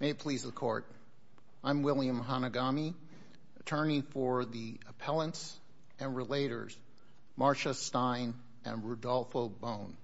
May it please the Court, I'm William Hanagami, attorney for the appellants and relators Marcia Stein and Rudolfo Bohn.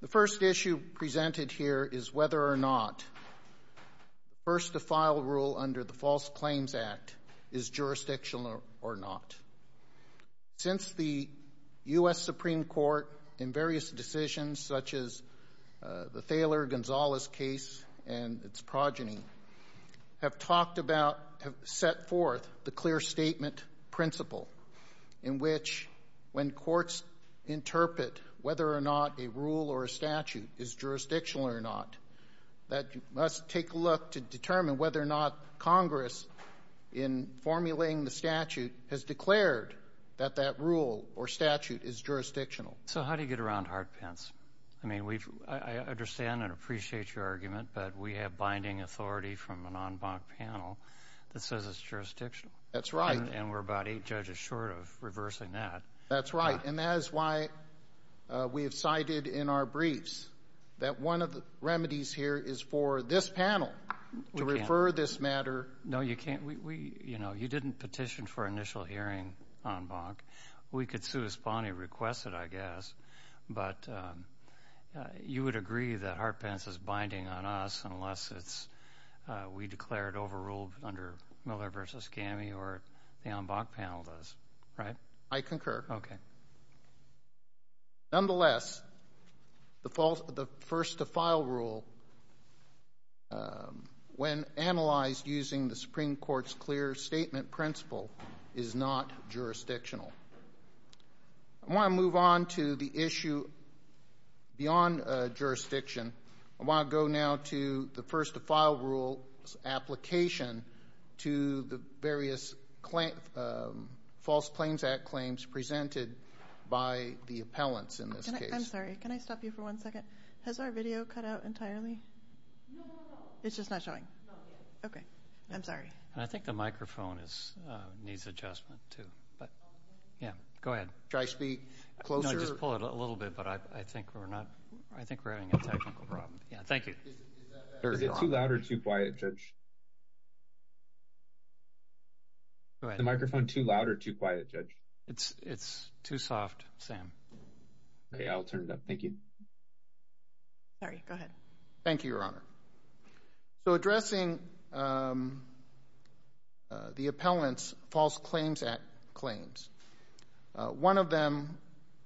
The first issue presented here is whether or not the first-to-file rule under the False Claims Act is jurisdictional or not. Since the U.S. Supreme Court in various decisions, such as the Thaler-Gonzalez case and its progeny, have set forth the clear statement principle in which when courts interpret whether or not a rule or a statute is jurisdictional or not, that you must take a look to determine whether or not Congress, in formulating the statute, has declared that that rule or statute is jurisdictional. So how do you get around Hart-Pence? I mean, I understand and appreciate your argument, but we have binding authority from an en banc panel that says it's jurisdictional. That's right. And we're about eight judges short of reversing that. That's right, and that is why we have cited in our briefs that one of the remedies here is for this panel to refer this matter. No, you can't. You know, you didn't petition for initial hearing en banc. We could sui spani request it, I guess, but you would agree that Hart-Pence is binding on us unless we declare it overruled under Miller v. Gammie or the en banc panel does, right? I concur. Okay. Nevertheless, the first-to-file rule, when analyzed using the Supreme Court's clear statement principle, is not jurisdictional. I want to move on to the issue beyond jurisdiction. I want to go now to the first-to-file rule's application to the various False Claims Act claims presented by the appellants in this case. I'm sorry. Can I stop you for one second? Has our video cut out entirely? No. It's just not showing? No. Okay. I'm sorry. I think the microphone needs adjustment too, but, yeah, go ahead. Should I speak closer? No, just pull it a little bit, but I think we're having a technical problem. Yeah, thank you. Is it too loud or too quiet, Judge? Go ahead. Is the microphone too loud or too quiet, Judge? It's too soft, Sam. Okay. I'll turn it up. Thank you. Sorry. Go ahead. Thank you, Your Honor. So addressing the appellant's False Claims Act claims, one of them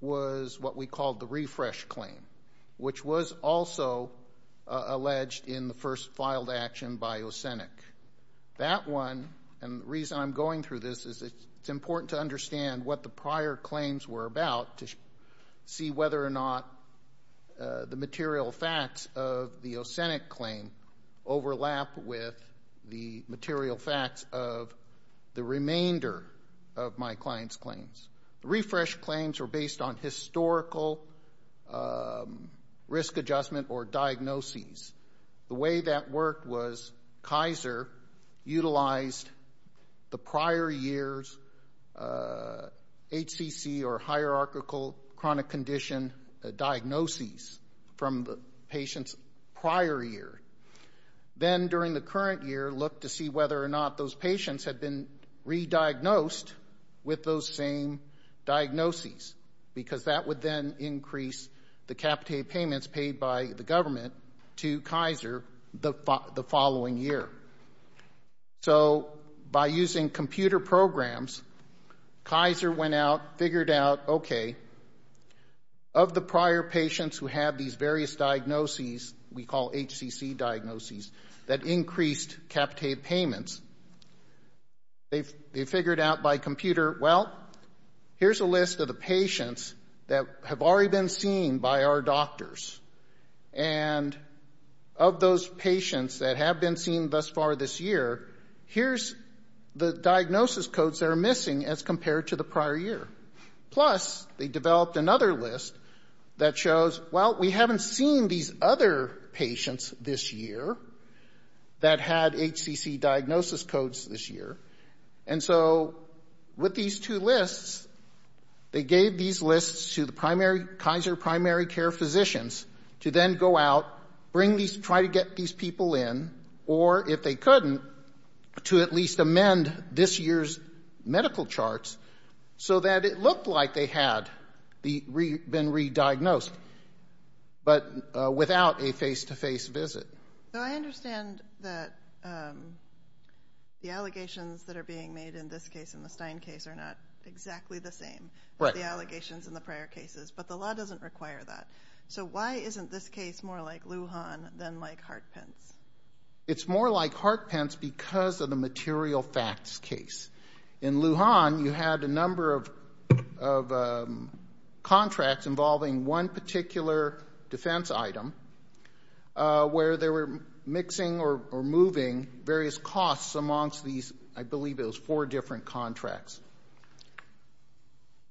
was what we called the refresh claim, which was also alleged in the first-filed action by Ocenic. That one, and the reason I'm going through this, is it's important to understand what the prior claims were about to see whether or not the material facts of the Ocenic claim overlap with the material facts of the remainder of my client's claims. The refresh claims were based on historical risk adjustment or diagnoses. The way that worked was Kaiser utilized the prior year's HCC or hierarchical chronic condition diagnoses from the patient's prior year. Then, during the current year, looked to see whether or not those patients had been re-diagnosed with those same diagnoses, because that would then increase the capitated payments paid by the government to Kaiser the following year. So by using computer programs, Kaiser went out, figured out, okay, of the prior patients who had these various diagnoses we call HCC diagnoses that increased capitated payments, they figured out by computer, well, here's a list of the patients that have already been seen by our doctors. And of those patients that have been seen thus far this year, here's the diagnosis codes that are missing as compared to the prior year. Plus, they developed another list that shows, well, we haven't seen these other patients this year that had HCC diagnosis codes this year. And so with these two lists, they gave these lists to the Kaiser primary care physicians to then go out, try to get these people in, or if they couldn't, to at least amend this year's medical charts so that it looked like they had been re-diagnosed, but without a face-to-face visit. So I understand that the allegations that are being made in this case, in the Stein case, are not exactly the same as the allegations in the prior cases, but the law doesn't require that. So why isn't this case more like Lujan than like Hart-Pence? It's more like Hart-Pence because of the material facts case. In Lujan, you had a number of contracts involving one particular defense item where they were mixing or moving various costs amongst these, I believe it was four different contracts.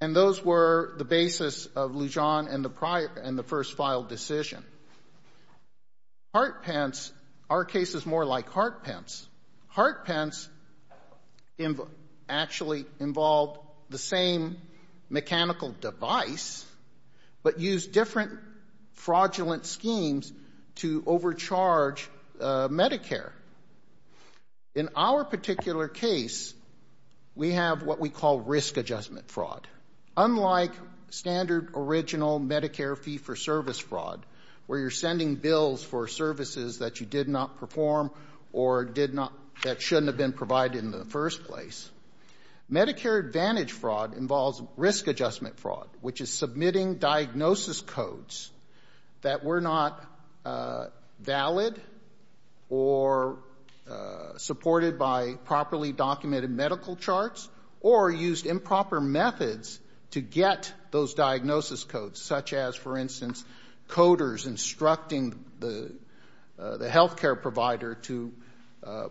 And those were the basis of Lujan and the first filed decision. Hart-Pence, our case is more like Hart-Pence. Hart-Pence actually involved the same mechanical device, but used different fraudulent schemes to overcharge Medicare. In our particular case, we have what we call risk adjustment fraud. Unlike standard, original Medicare fee-for-service fraud, where you're sending bills for services that you did not perform or that shouldn't have been provided in the first place, Medicare Advantage fraud involves risk adjustment fraud, which is submitting diagnosis codes that were not valid or supported by properly documented medical charts or used improper methods to get those diagnosis codes, such as, for instance, coders instructing the health care provider to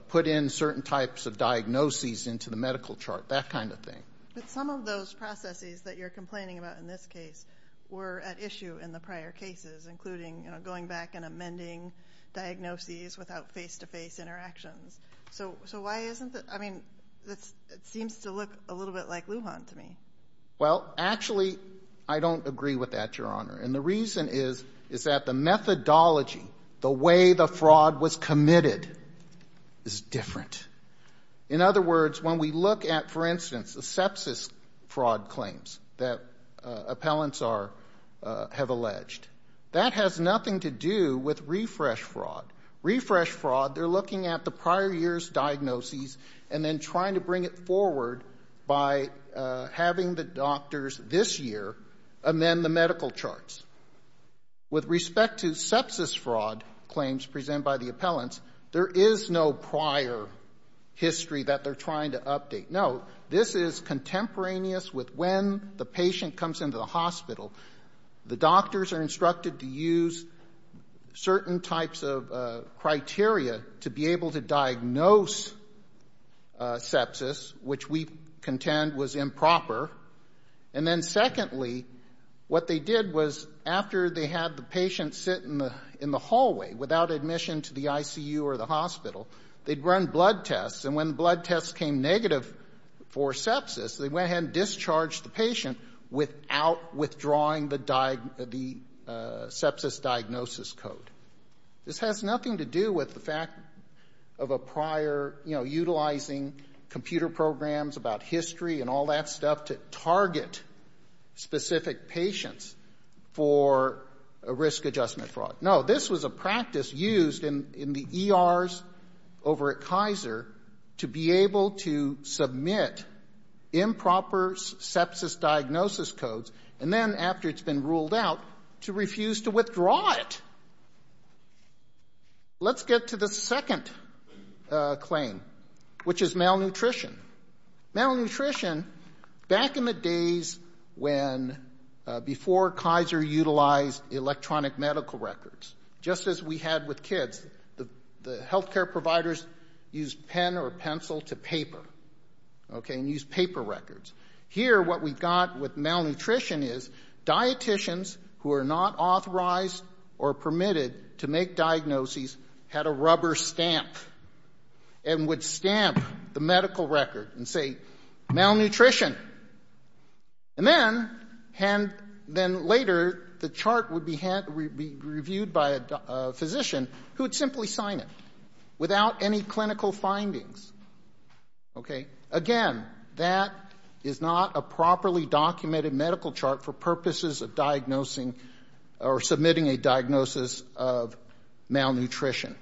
put in certain types of diagnoses into the medical chart, that kind of thing. But some of those processes that you're complaining about in this case were at issue in the prior cases, including, you know, going back and amending diagnoses without face-to-face interactions. So why isn't it? I mean, it seems to look a little bit like Lujan to me. Well, actually, I don't agree with that, Your Honor. And the reason is that the methodology, the way the fraud was committed, is different. In other words, when we look at, for instance, the sepsis fraud claims that appellants have alleged, that has nothing to do with refresh fraud. Refresh fraud, they're looking at the prior year's diagnoses and then trying to bring it forward by having the doctors this year amend the medical charts. With respect to sepsis fraud claims presented by the appellants, there is no prior history that they're trying to update. No. This is contemporaneous with when the patient comes into the hospital. The doctors are instructed to use certain types of criteria to be able to diagnose sepsis, which we contend was improper. And then secondly, what they did was after they had the patient sit in the hallway without admission to the ICU or the hospital, they'd run blood tests. And when blood tests came negative for sepsis, they went ahead and discharged the patient without withdrawing the sepsis diagnosis code. This has nothing to do with the fact of a prior, you know, specific patients for a risk adjustment fraud. No. This was a practice used in the ERs over at Kaiser to be able to submit improper sepsis diagnosis codes and then, after it's been ruled out, to refuse to withdraw it. Let's get to the second claim, which is malnutrition. Malnutrition, back in the days before Kaiser utilized electronic medical records, just as we had with kids, the health care providers used pen or pencil to paper, okay, and used paper records. Here, what we got with malnutrition is dieticians who are not authorized or permitted to make diagnoses had a rubber stamp and would stamp the medical record and say, malnutrition. And then, later, the chart would be reviewed by a physician who would simply sign it without any clinical findings. Okay? Again, that is not a properly documented medical chart for purposes of diagnosing or submitting a diagnosis of malnutrition.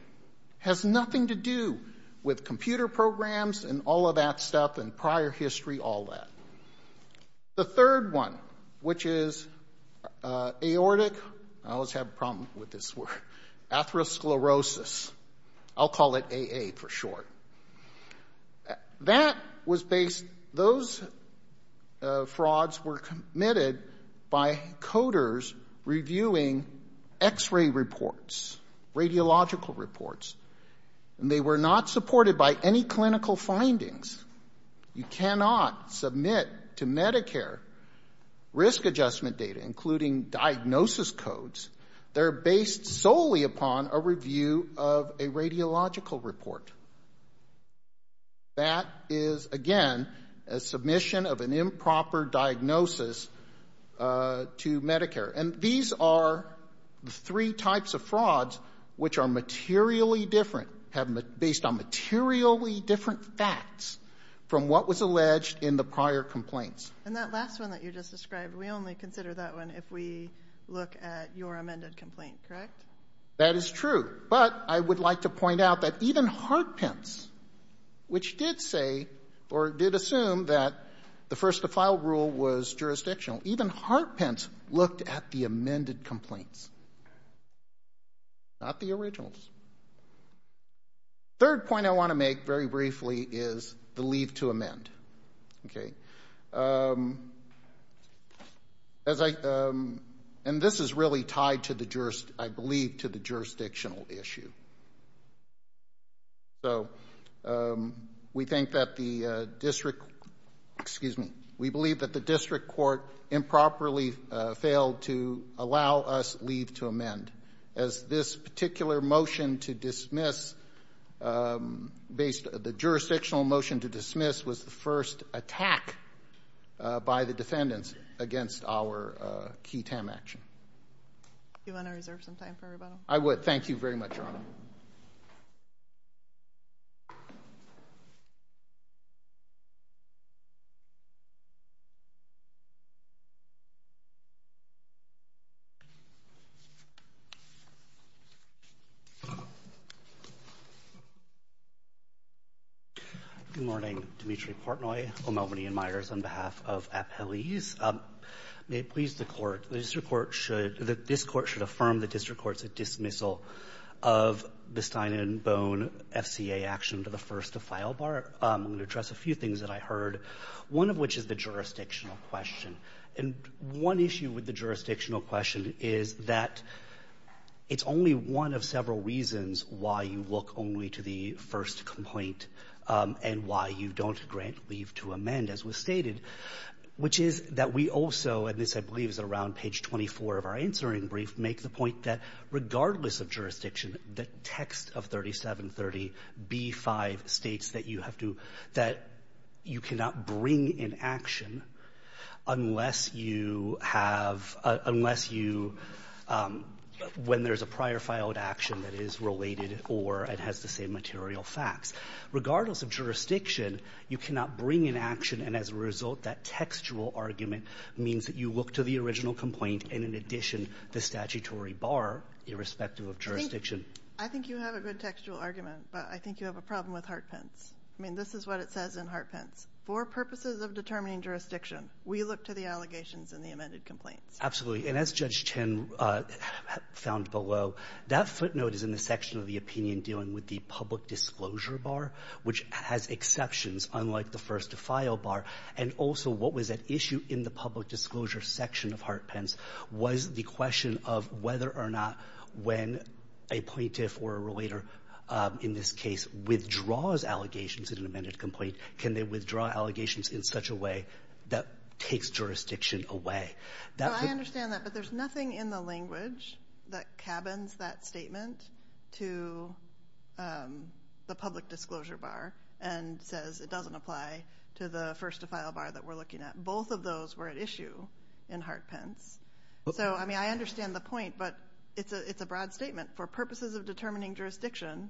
Has nothing to do with computer programs and all of that stuff and prior history, all that. The third one, which is aortic, I always have a problem with this word, atherosclerosis. I'll call it AA for short. That was based, those frauds were committed by coders reviewing X-ray reports, radiological reports, and they were not supported by any clinical findings. You cannot submit to Medicare risk adjustment data, including diagnosis codes. They're based solely upon a review of a radiological report. That is, again, a submission of an improper diagnosis to Medicare. And these are the three types of frauds which are materially different, based on materially different facts from what was alleged in the prior complaints. And that last one that you just described, we only consider that one if we look at your amended complaint, correct? That is true. But I would like to point out that even Hartpence, which did say or did assume that the first-to-file rule was jurisdictional, even Hartpence looked at the amended complaints, not the originals. Third point I want to make very briefly is the leave to amend. And this is really tied, I believe, to the jurisdictional issue. So we think that the district, excuse me, we believe that the district court improperly failed to allow us leave to amend, as this particular motion to dismiss based, the jurisdictional motion to dismiss was the first attack by the defendants against our QTAM action. Do you want to reserve some time for rebuttal? I would. Thank you very much, Your Honor. Good morning. Dimitri Portnoy, O'Melveny & Myers, on behalf of Appellees. May it please the Court, this Court should affirm that district court's dismissal of the Stein and Bone FCA action to the first-to-file bar. I'm going to address a few things that I heard, one of which is the jurisdictional question. And one issue with the jurisdictional question is that it's only one of several reasons why you look only to the first complaint and why you don't grant leave to amend, as was stated, which is that we also, and this, I believe, is around page 24 of our answering brief, make the point that regardless of jurisdiction, the text of 3730b5 states that you have to, that you cannot bring in action unless you have, unless you, when there's a prior filed action that is related or it has the same material facts. Regardless of jurisdiction, you cannot bring in action, and as a result, that textual argument means that you look to the original complaint and, in addition, the statutory bar, irrespective of jurisdiction. I think you have a good textual argument, but I think you have a problem with Hart-Pence. I mean, this is what it says in Hart-Pence. For purposes of determining jurisdiction, we look to the allegations in the amended complaints. Absolutely. And as Judge Chen found below, that footnote is in the section of the public disclosure bar, which has exceptions unlike the first-to-file bar. And also, what was at issue in the public disclosure section of Hart-Pence was the question of whether or not when a plaintiff or a relator, in this case, withdraws allegations in an amended complaint, can they withdraw allegations in such a way that takes jurisdiction away. I understand that, but there's nothing in the language that cabins that statement to the public disclosure bar and says it doesn't apply to the first-to-file bar that we're looking at. Both of those were at issue in Hart-Pence. So, I mean, I understand the point, but it's a broad statement. For purposes of determining jurisdiction,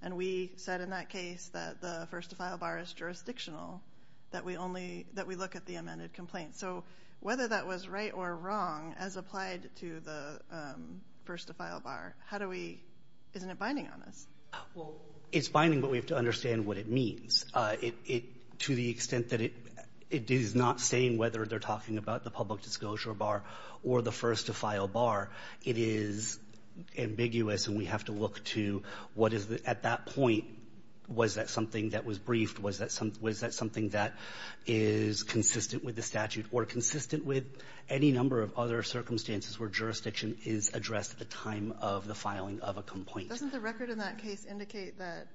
and we said in that case that the first-to-file bar is jurisdictional, that we look at the amended complaint. So whether that was right or wrong as applied to the first-to-file bar, how do we — isn't it binding on us? Well, it's binding, but we have to understand what it means. It — to the extent that it is not saying whether they're talking about the public disclosure bar or the first-to-file bar, it is ambiguous, and we have to look to what is, at that point, was that something that was briefed? Was that something that is consistent with the statute or consistent with any number of other circumstances where jurisdiction is addressed at the time of the filing of a complaint? Doesn't the record in that case indicate that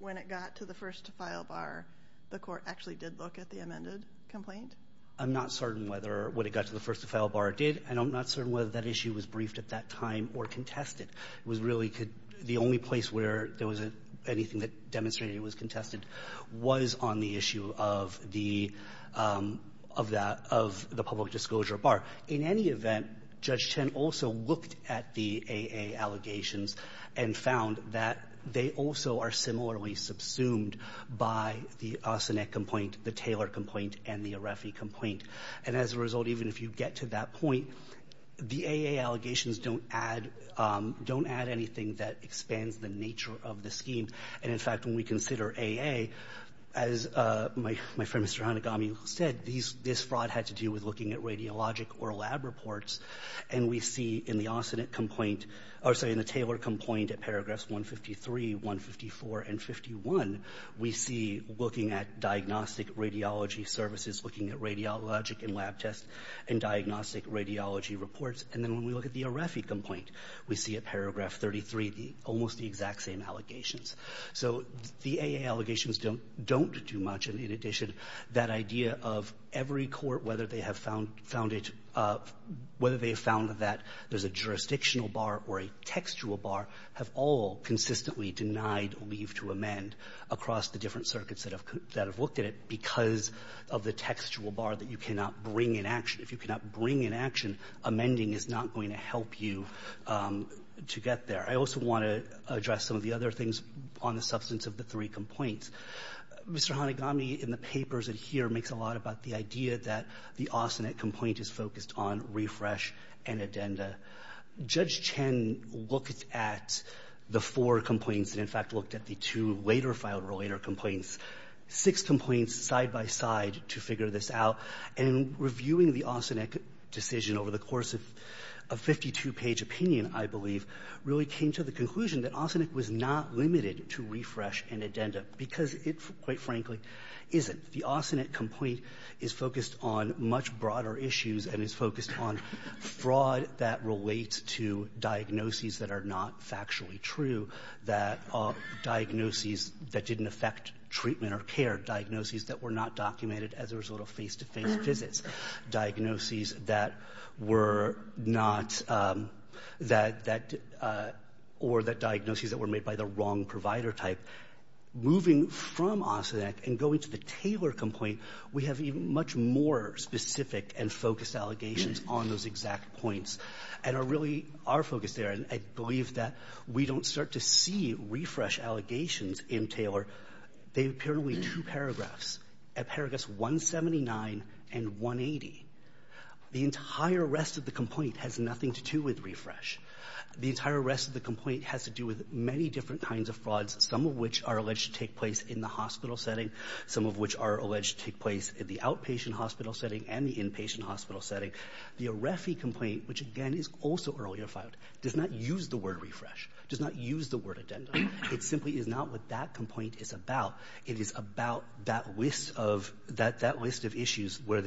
when it got to the first-to-file bar, the Court actually did look at the amended complaint? I'm not certain whether — when it got to the first-to-file bar, it did, and I'm not certain whether that issue was briefed at that time or contested. It was really the only place where there wasn't anything that demonstrated it was contested was on the issue of the — of that — of the public disclosure bar. In any event, Judge Chen also looked at the AA allegations and found that they also are similarly subsumed by the Osinek complaint, the Taylor complaint, and the Arefi complaint. And as a result, even if you get to that point, the AA allegations don't add — don't add anything that expands the nature of the scheme. And in fact, when we consider AA, as my friend Mr. Hanegami said, this fraud had to do with looking at radiologic or lab reports, and we see in the Osinek complaint — or, sorry, in the Taylor complaint at paragraphs 153, 154, and 51, we see looking at diagnostic radiology services, looking at radiologic and lab tests, and diagnostic radiology reports. And then when we look at the Arefi complaint, we see at paragraph 33 almost the exact same allegations. So the AA allegations don't — don't do much. And in addition, that idea of every court, whether they have found — found it — whether they have found that there's a jurisdictional bar or a textual bar have all consistently denied leave to amend across the different circuits that have looked at it because of the textual bar that you cannot bring in action. If you cannot bring in action, amending is not going to help you to get there. I also want to address some of the other things on the substance of the three complaints. Mr. Hanegami, in the papers in here, makes a lot about the idea that the Osinek complaint is focused on refresh and addenda. Judge Chen looked at the four complaints and, in fact, looked at the two later filed or later complaints. Six complaints side by side to figure this out. And in reviewing the Osinek decision over the course of a 52-page opinion, I believe, really came to the conclusion that Osinek was not limited to refresh and addenda because it, quite frankly, isn't. The Osinek complaint is focused on much broader issues and is focused on fraud that relates to diagnoses that are not factually true, that diagnoses that didn't affect treatment or care, diagnoses that were not documented as a result of face-to-face visits, diagnoses that were not that or that diagnoses that were made by the wrong provider type. Moving from Osinek and going to the Taylor complaint, we have even much more specific and focused allegations on those exact points and are really our focus there. And I believe that we don't start to see refresh allegations in Taylor. They appear to be two paragraphs. At paragraphs 179 and 180, the entire rest of the complaint has nothing to do with refresh. The entire rest of the complaint has to do with many different kinds of frauds, some of which are alleged to take place in the hospital setting, some of which are alleged to take place in the outpatient hospital setting and the inpatient hospital setting. The Arefi complaint, which, again, is also earlier filed, does not use the word refresh, does not use the word addendum. It simply is not what that complaint is about. It is about that list of issues where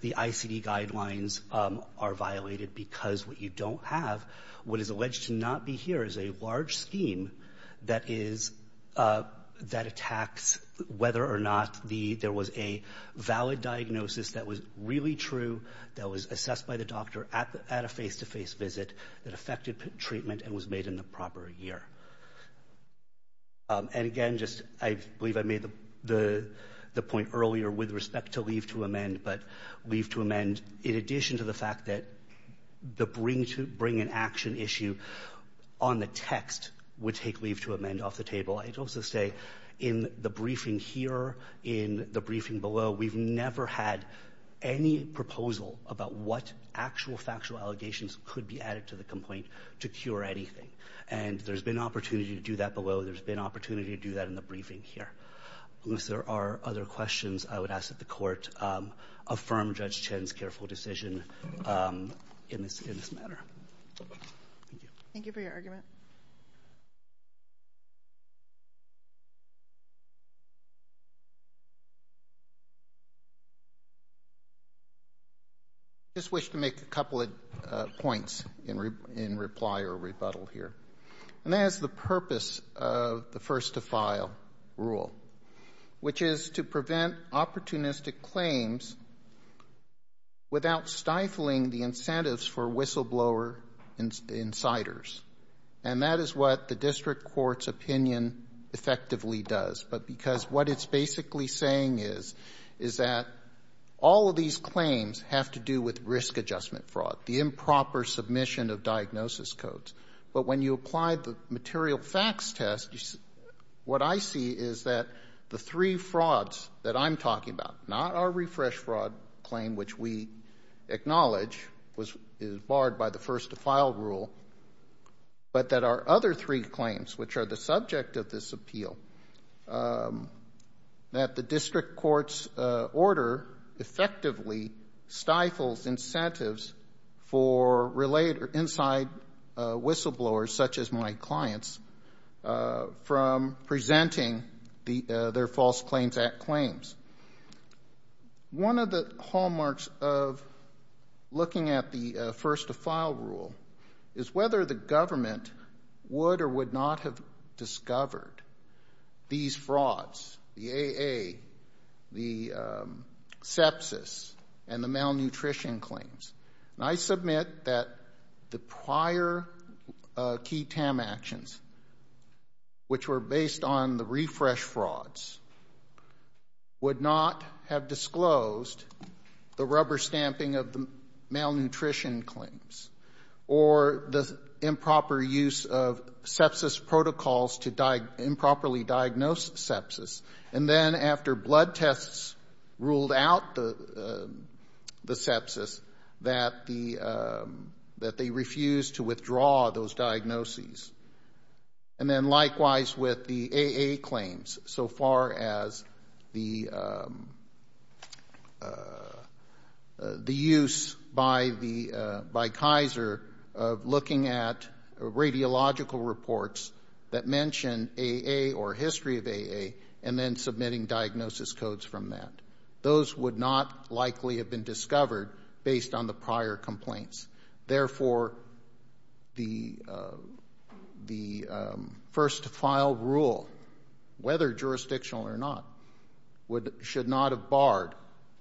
the ICD guidelines are violated because what you don't have, what is alleged to not be here, is a large scheme that is that attacks whether or not there was a valid diagnosis that was really true, that was assessed by the doctor at a face-to-face visit, that affected treatment and was made in the proper year. And, again, just I believe I made the point earlier with respect to leave to amend, but leave to amend in addition to the fact that the bring to bring an action issue on the text would take leave to amend off the table. I'd also say in the briefing here, in the briefing below, we've never had any proposal about what actual factual allegations could be added to the complaint to cure anything. And there's been opportunity to do that below. There's been opportunity to do that in the briefing here. Unless there are other questions, I would ask that the Court affirm Judge Chen's careful decision in this matter. Thank you. Thank you for your argument. I just wish to make a couple of points in reply or rebuttal here. And that is the purpose of the first to file rule, which is to prevent opportunistic claims without stifling the incentives for whistleblower insiders. And that is what the district court's opinion effectively does. But because what it's basically saying is, is that all of these claims have to do with risk adjustment fraud, the improper submission of diagnosis codes. But when you apply the material facts test, what I see is that the three frauds that I'm talking about, not our refresh fraud claim, which we acknowledge is barred by the first to file rule, but that our other three claims, which are the subject of this appeal, that the district court's order effectively stifles incentives for insider whistleblowers, such as my clients, from presenting their False Claims Act claims. One of the hallmarks of looking at the first to file rule is whether the government would or would not have discovered these frauds, the AA, the sepsis, and the malnutrition claims. And I submit that the prior key TAM actions, which were based on the refresh frauds, would not have disclosed the rubber stamping of the malnutrition claims or the improper use of sepsis protocols to improperly diagnose sepsis. And then after blood tests ruled out the sepsis, that they refused to withdraw those diagnoses. And then likewise with the AA claims, so far as the use by Kaiser of looking at radiological reports that would not likely have been discovered based on the prior complaints. Therefore, the first to file rule, whether jurisdictional or not, should not have barred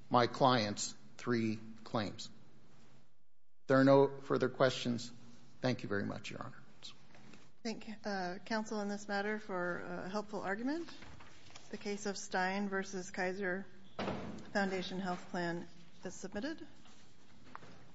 my clients' three claims. There are no further questions. Thank you very much, Your Honor. I thank counsel on this matter for a helpful argument. The case of Stein v. Kaiser Foundation Health Plan is submitted.